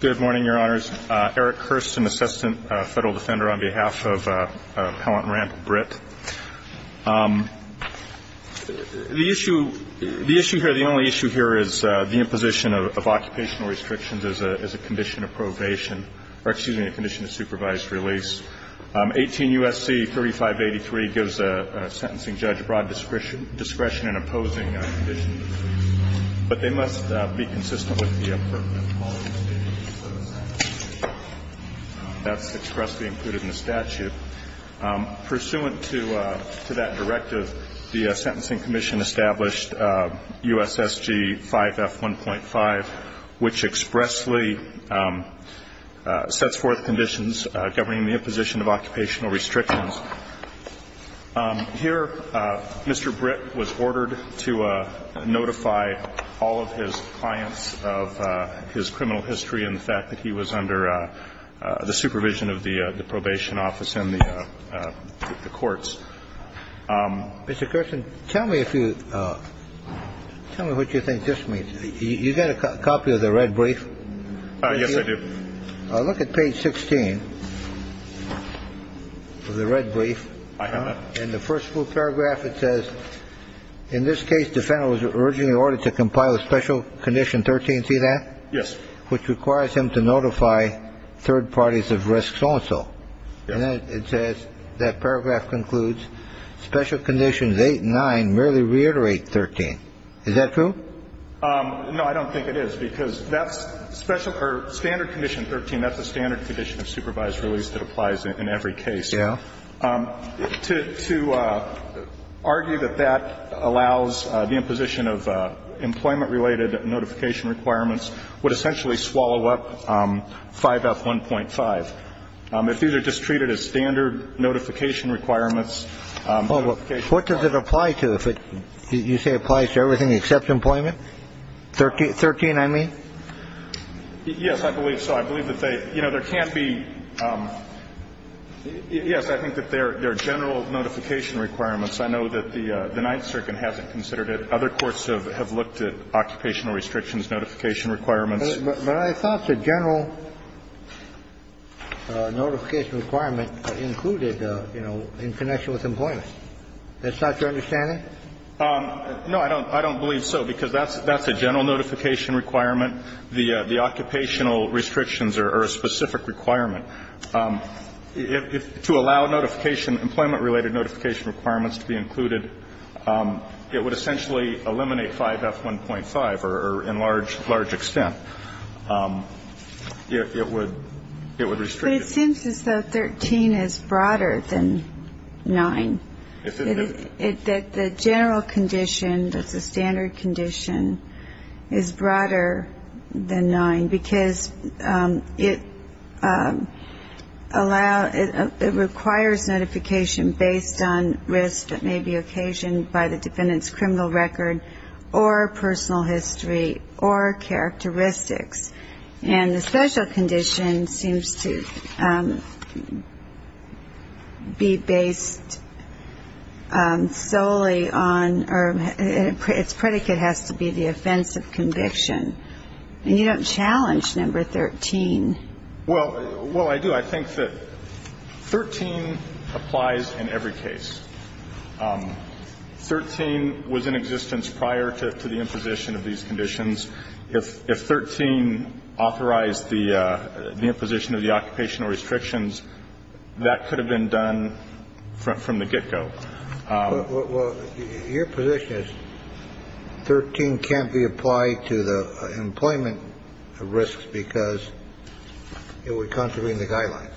Good morning, Your Honors. Eric Hurst, an Assistant Federal Defender on behalf of Pellant and Rant, Britt. The issue here, the only issue here is the imposition of occupational restrictions as a condition of probation, or excuse me, a condition of supervised release. 18 U.S.C. 3583 gives a sentencing judge broad discretion in opposing a condition, but they must be consistent with the appropriate quality standards set aside. That's expressly included in the statute. Pursuant to that directive, the Sentencing Commission established U.S.S.G. 5F1.5, which expressly sets forth conditions governing the imposition of occupational restrictions. The Sentencing Commission established U.S.S.G. 5F1.5, which expressly sets forth conditions but they must be consistent with the appropriate quality standards set aside. Here, Mr. Britt was ordered to notify all of his clients of his criminal history and the fact that he was under the supervision of the probation office and the courts. Mr. Gerson, tell me if you – tell me what you think this means. You got a copy of the red brief? Yes, I do. Look at page 16 of the red brief. I have it. In the first full paragraph, it says, in this case, defendant was originally ordered to compile a special condition 13. See that? Which requires him to notify third parties of risks also. And then it says, that paragraph concludes, special conditions 8 and 9 merely reiterate 13. Is that true? No, I don't think it is, because that's special – or standard condition 13, that's a standard condition of supervised release that applies in every case. Yeah. To argue that that allows the imposition of employment-related notification requirements would essentially swallow up 5F1.5. If these are just treated as standard notification requirements – Well, what does it apply to if it – you say it applies to everything except employment? 13, I mean? Yes, I believe so. I believe that they – you know, there can't be – yes, I think that there are general notification requirements. I know that the Ninth Circuit hasn't considered it. Other courts have looked at occupational restrictions, notification requirements. But I thought the general notification requirement included, you know, in connection with employment. That's not your understanding? No, I don't believe so, because that's a general notification requirement. The occupational restrictions are a specific requirement. To allow notification, employment-related notification requirements to be included, it would essentially eliminate 5F1.5, or in large extent, it would restrict it. But it seems as though 13 is broader than 9. If it – That the general condition, that's a standard condition, is broader than 9, because it allows – it requires notification based on risk that may be occasioned by the defendant's criminal record or personal history or characteristics. And the special condition seems to be based solely on – or its predicate has to be the offense of conviction. And you don't challenge number 13. Well, I do. I think that 13 applies in every case. 13 was in existence prior to the imposition of these conditions. If 13 authorized the imposition of the occupational restrictions, that could have been done from the get-go. Well, your position is 13 can't be applied to the employment risks because it would contravene the guidelines.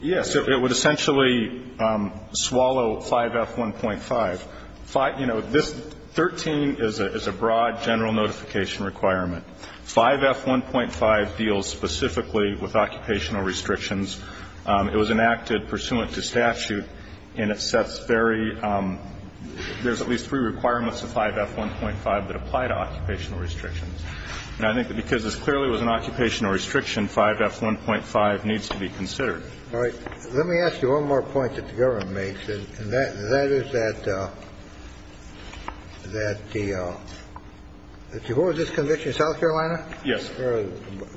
Yes. It would essentially swallow 5F1.5. You know, this – 13 is a broad general notification requirement. 5F1.5 deals specifically with occupational restrictions. It was enacted pursuant to statute, and it sets very – there's at least three requirements of 5F1.5 that apply to occupational restrictions. And I think that because this clearly was an occupational restriction, 5F1.5 needs to be considered. All right. Let me ask you one more point that the government makes, and that is that the – what was this conviction, South Carolina? Yes.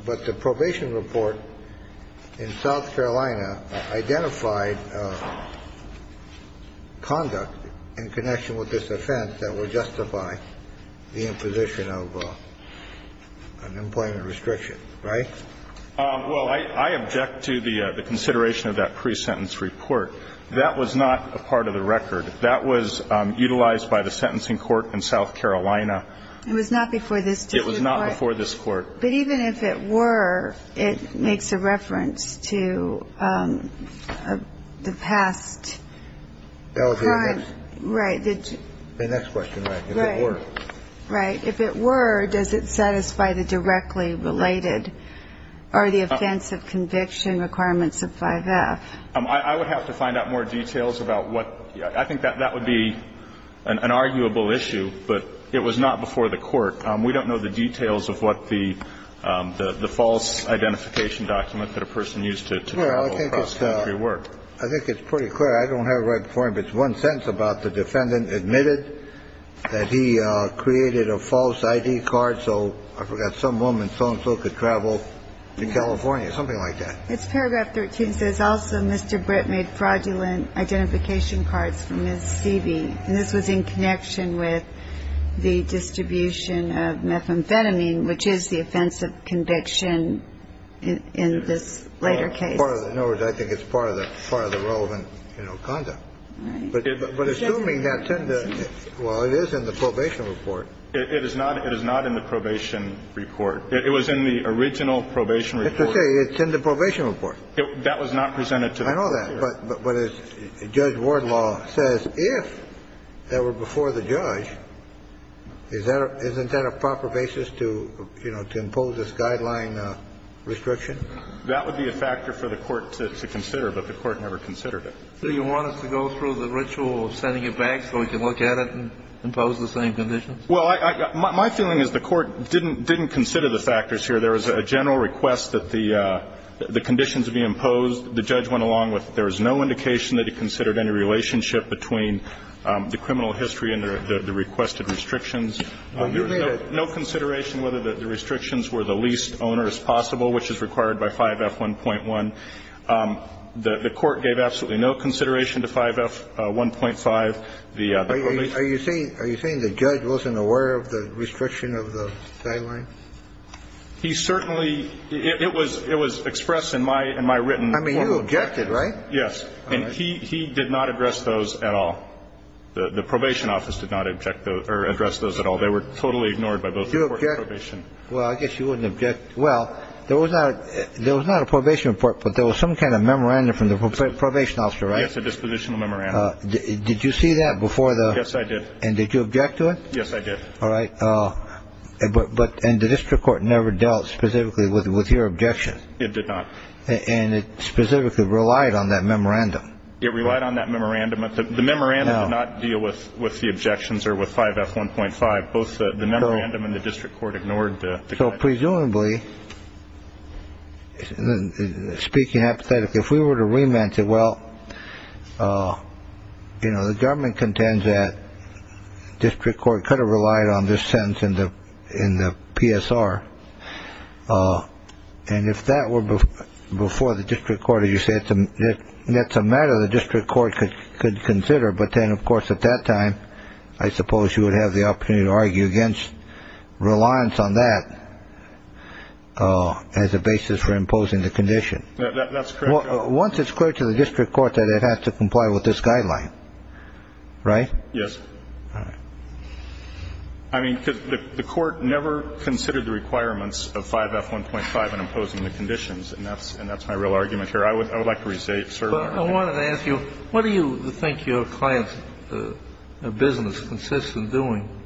But the probation report in South Carolina identified conduct in connection with this offense that would justify the imposition of employment restrictions, right? Well, I object to the consideration of that pre-sentence report. That was not a part of the record. That was utilized by the sentencing court in South Carolina. It was not before this court. But even if it were, it makes a reference to the past crime. Right. The next question, right, if it were. Right. If it were, does it satisfy the directly related or the offense of conviction requirements of 5F? I would have to find out more details about what – I think that that would be an arguable issue. But it was not before the court. We don't know the details of what the false identification document that a person used to travel across the country were. Well, I think it's pretty clear. I don't have it right before me. But it's one sentence about the defendant admitted that he created a false ID card so I forgot some woman so-and-so could travel to California, something like that. It's paragraph 13. It says, And this was in connection with the distribution of methamphetamine, which is the offense of conviction in this later case. In other words, I think it's part of the relevant conduct. Right. But assuming that's in the – well, it is in the probation report. It is not in the probation report. It was in the original probation report. I have to say, it's in the probation report. That was not presented to the court. I know that. But as Judge Wardlaw says, if that were before the judge, isn't that a proper basis to, you know, to impose this guideline restriction? That would be a factor for the court to consider. But the court never considered it. So you want us to go through the ritual of sending it back so we can look at it and impose the same conditions? Well, my feeling is the court didn't consider the factors here. There was a general request that the conditions be imposed. The judge went along with it. There was no indication that he considered any relationship between the criminal history and the requested restrictions. No consideration whether the restrictions were the least onerous possible, which is required by 5F1.1. The court gave absolutely no consideration to 5F1.5. Are you saying the judge wasn't aware of the restriction of the guideline? He certainly it was it was expressed in my in my written. I mean, you objected, right? Yes. And he did not address those at all. The probation office did not object or address those at all. They were totally ignored by both probation. Well, I guess you wouldn't object. Well, there was not there was not a probation report, but there was some kind of memorandum from the probation officer. It's a dispositional memorandum. Did you see that before? Yes, I did. And did you object to it? Yes, I did. All right. But the district court never dealt specifically with your objection. It did not. And it specifically relied on that memorandum. It relied on that memorandum. The memorandum did not deal with the objections or with 5F1.5. Both the memorandum and the district court ignored the guideline. So presumably, speaking hypothetically, if we were to remand it, well, you know, the government contends that district court could have relied on this sentence in the in the PSR. And if that were before the district court, as you said, that's a matter the district court could consider. But then, of course, at that time, I suppose you would have the opportunity to argue against reliance on that as a basis for imposing the condition. That's correct. Once it's clear to the district court that it has to comply with this guideline, right? Yes. All right. I mean, the court never considered the requirements of 5F1.5 in imposing the conditions. And that's my real argument here. I would like to reserve that argument. But I wanted to ask you, what do you think your client's business consists of doing?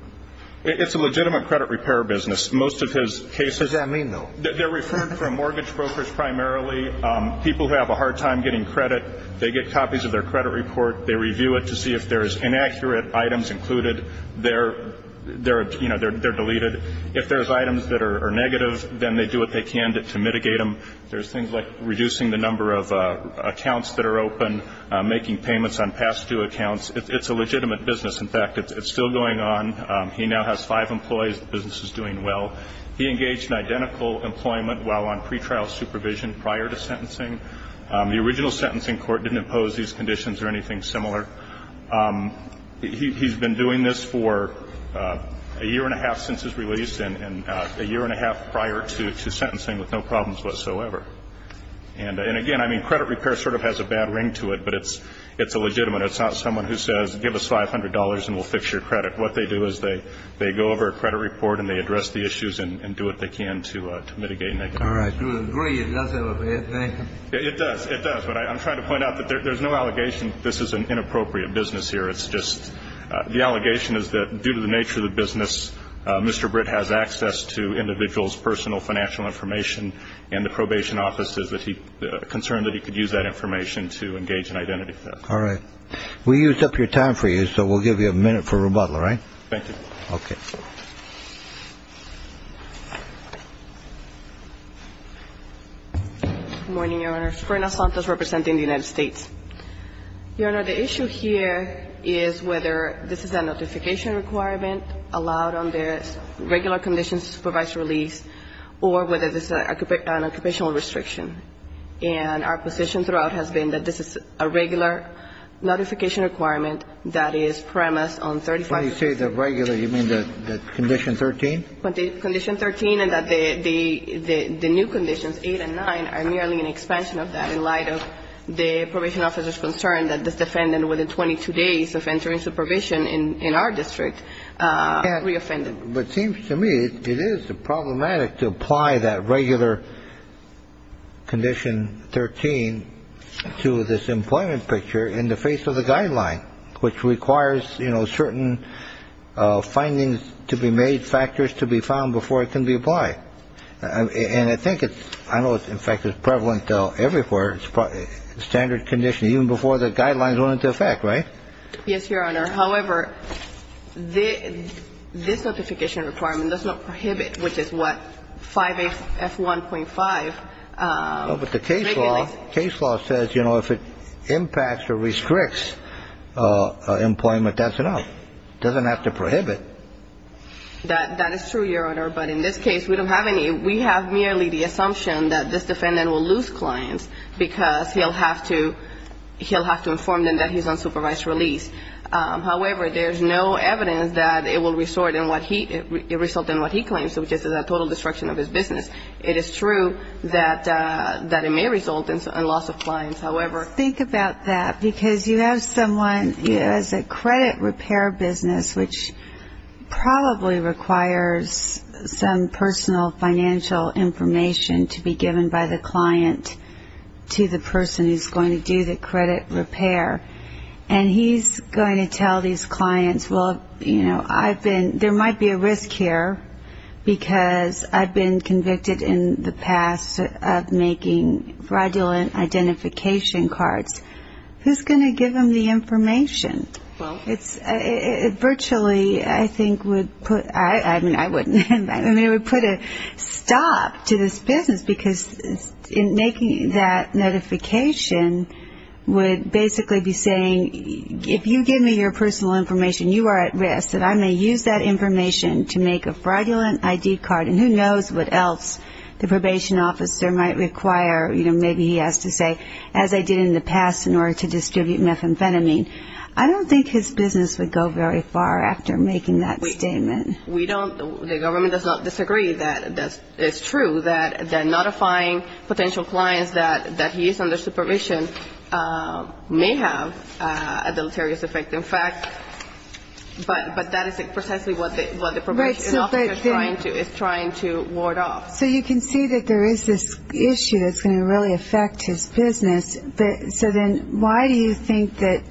It's a legitimate credit repair business. Most of his cases. What does that mean, though? They're referred from mortgage brokers primarily, people who have a hard time getting credit. They get copies of their credit report. They review it to see if there is inaccurate items included. They're deleted. If there's items that are negative, then they do what they can to mitigate them. There's things like reducing the number of accounts that are open, making payments on past due accounts. It's a legitimate business. In fact, it's still going on. He now has five employees. The business is doing well. He engaged in identical employment while on pretrial supervision prior to sentencing. The original sentencing court didn't impose these conditions or anything similar. He's been doing this for a year and a half since his release, and a year and a half prior to sentencing with no problems whatsoever. And, again, I mean, credit repair sort of has a bad ring to it, but it's a legitimate. It's not someone who says, give us $500 and we'll fix your credit. What they do is they go over a credit report and they address the issues and do what they can to mitigate negative issues. All right. It does have a bad ring. It does. It does. But I'm trying to point out that there's no allegation this is an inappropriate business here. It's just the allegation is that due to the nature of the business, Mr. Britt has access to individuals' personal financial information, and the probation office is concerned that he could use that information to engage in identity theft. All right. We used up your time for you, so we'll give you a minute for rebuttal. All right? Thank you. Okay. Good morning, Your Honor. Serena Santos representing the United States. Your Honor, the issue here is whether this is a notification requirement allowed under regular conditions to supervise release or whether this is an occupational restriction. And our position throughout has been that this is a regular notification requirement that is premised on 35- When you say the regular, you mean the condition 13? Condition 13 and that the new conditions, 8 and 9, are merely an expansion of that in light of the probation officer's concern that this defendant, within 22 days of entering supervision in our district, reoffended. But it seems to me it is problematic to apply that regular condition 13 to this employment picture in the face of the guideline, which requires, you know, certain findings to be made, factors to be found before it can be applied. And I think it's, I know, in fact, it's prevalent everywhere, standard condition, even before the guidelines went into effect, right? Yes, Your Honor. However, this notification requirement does not prohibit, which is what 5A F1.5 regulates. But the case law says, you know, if it impacts or restricts employment, that's enough. It doesn't have to prohibit. That is true, Your Honor. But in this case, we don't have any. We have merely the assumption that this defendant will lose clients because he'll have to inform them that he's on supervised release. However, there's no evidence that it will result in what he claims, which is a total destruction of his business. It is true that it may result in loss of clients. However, Think about that, because you have someone who has a credit repair business, which probably requires some personal financial information to be given by the client to the person who's going to do the credit repair. And he's going to tell these clients, well, you know, I've been, there might be a risk here because I've been convicted in the past of making fraudulent identification cards. Who's going to give them the information? Well, It's virtually, I think, would put, I mean, I wouldn't. I mean, it would put a stop to this business, because in making that notification would basically be saying, if you give me your personal information, you are at risk, that I may use that information to make a fraudulent ID card, and who knows what else the probation officer might require. You know, maybe he has to say, as I did in the past, in order to distribute methamphetamine. I don't think his business would go very far after making that statement. We don't, the government does not disagree that it's true that notifying potential clients that he is under supervision may have a deleterious effect. In fact, but that is precisely what the probation officer is trying to ward off. So you can see that there is this issue that's going to really affect his business. So then why do you think that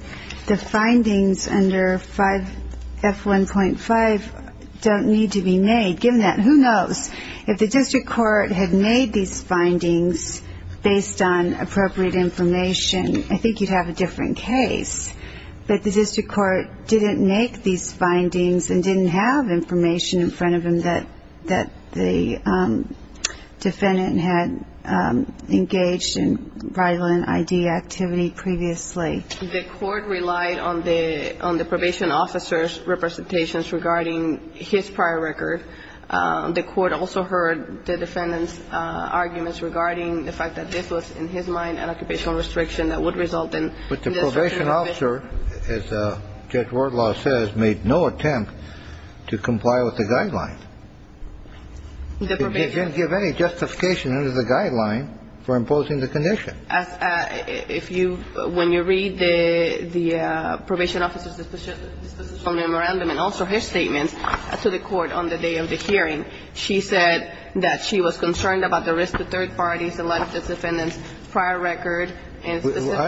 the findings under 5F1.5 don't need to be made, given that, who knows, if the district court had made these findings based on appropriate information, I think you'd have a different case. But the district court didn't make these findings and didn't have information in front of him that the defendant had engaged in violent ID activity previously. The court relied on the probation officer's representations regarding his prior record. The court also heard the defendant's arguments regarding the fact that this was, in his mind, an occupational restriction that would result in this particular condition. But the probation officer, as Judge Wardlaw says, made no attempt to comply with the guideline. He didn't give any justification under the guideline for imposing the condition. If you, when you read the probation officer's dispositional memorandum and also his statements to the court on the day of the hearing, she said that she was concerned about the risk to third parties, the life of this defendant's prior record. I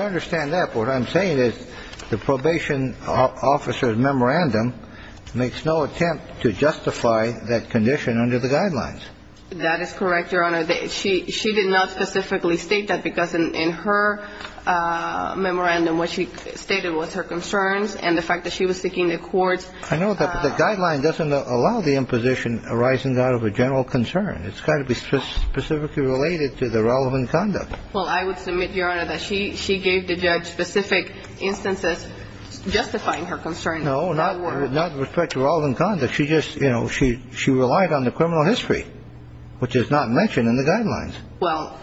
understand that. But what I'm saying is the probation officer's memorandum makes no attempt to justify that condition under the guidelines. That is correct, Your Honor. She did not specifically state that because in her memorandum what she stated was her concerns and the fact that she was seeking the court's ---- I know, but the guideline doesn't allow the imposition arising out of a general concern. It's got to be specifically related to the relevant conduct. Well, I would submit, Your Honor, that she gave the judge specific instances justifying her concern. No, not with respect to relevant conduct. She just, you know, she relied on the criminal history, which is not mentioned in the guidelines. Well,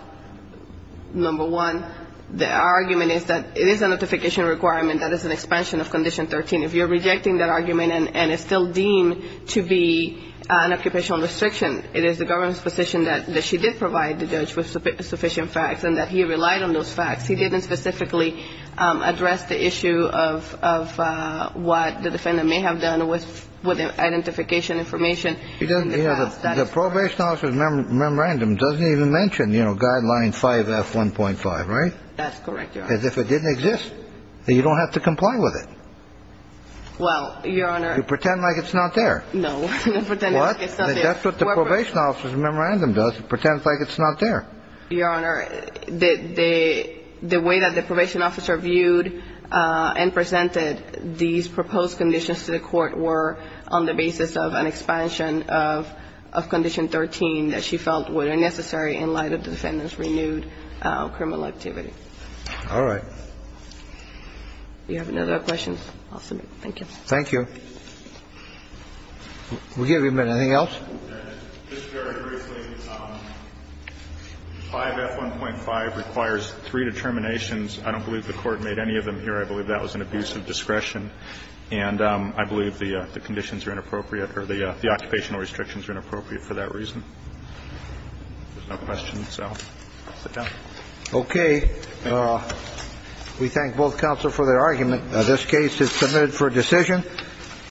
number one, the argument is that it is a notification requirement that is an expansion of Condition 13. If you're rejecting that argument and it's still deemed to be an occupational restriction, it is the government's position that she did provide the judge with sufficient facts and that he relied on those facts. He didn't specifically address the issue of what the defendant may have done with identification information. The probation officer's memorandum doesn't even mention, you know, Guideline 5F1.5, right? That's correct, Your Honor. As if it didn't exist. You don't have to comply with it. Well, Your Honor ---- You pretend like it's not there. No. What? That's what the probation officer's memorandum does. It pretends like it's not there. Your Honor, the way that the probation officer viewed and presented these proposed conditions to the court were on the basis of an expansion of Condition 13 that she felt were necessary in light of the defendant's renewed criminal activity. All right. Do you have another question? I'll submit. Thank you. Thank you. We'll give you a minute. Anything else? Just very briefly, 5F1.5 requires three determinations. I don't believe the court made any of them here. I believe that was an abuse of discretion. And I believe the conditions are inappropriate or the occupational restrictions are inappropriate for that reason. If there's no question, so sit down. Okay. We thank both counsel for their argument. This case is submitted for decision.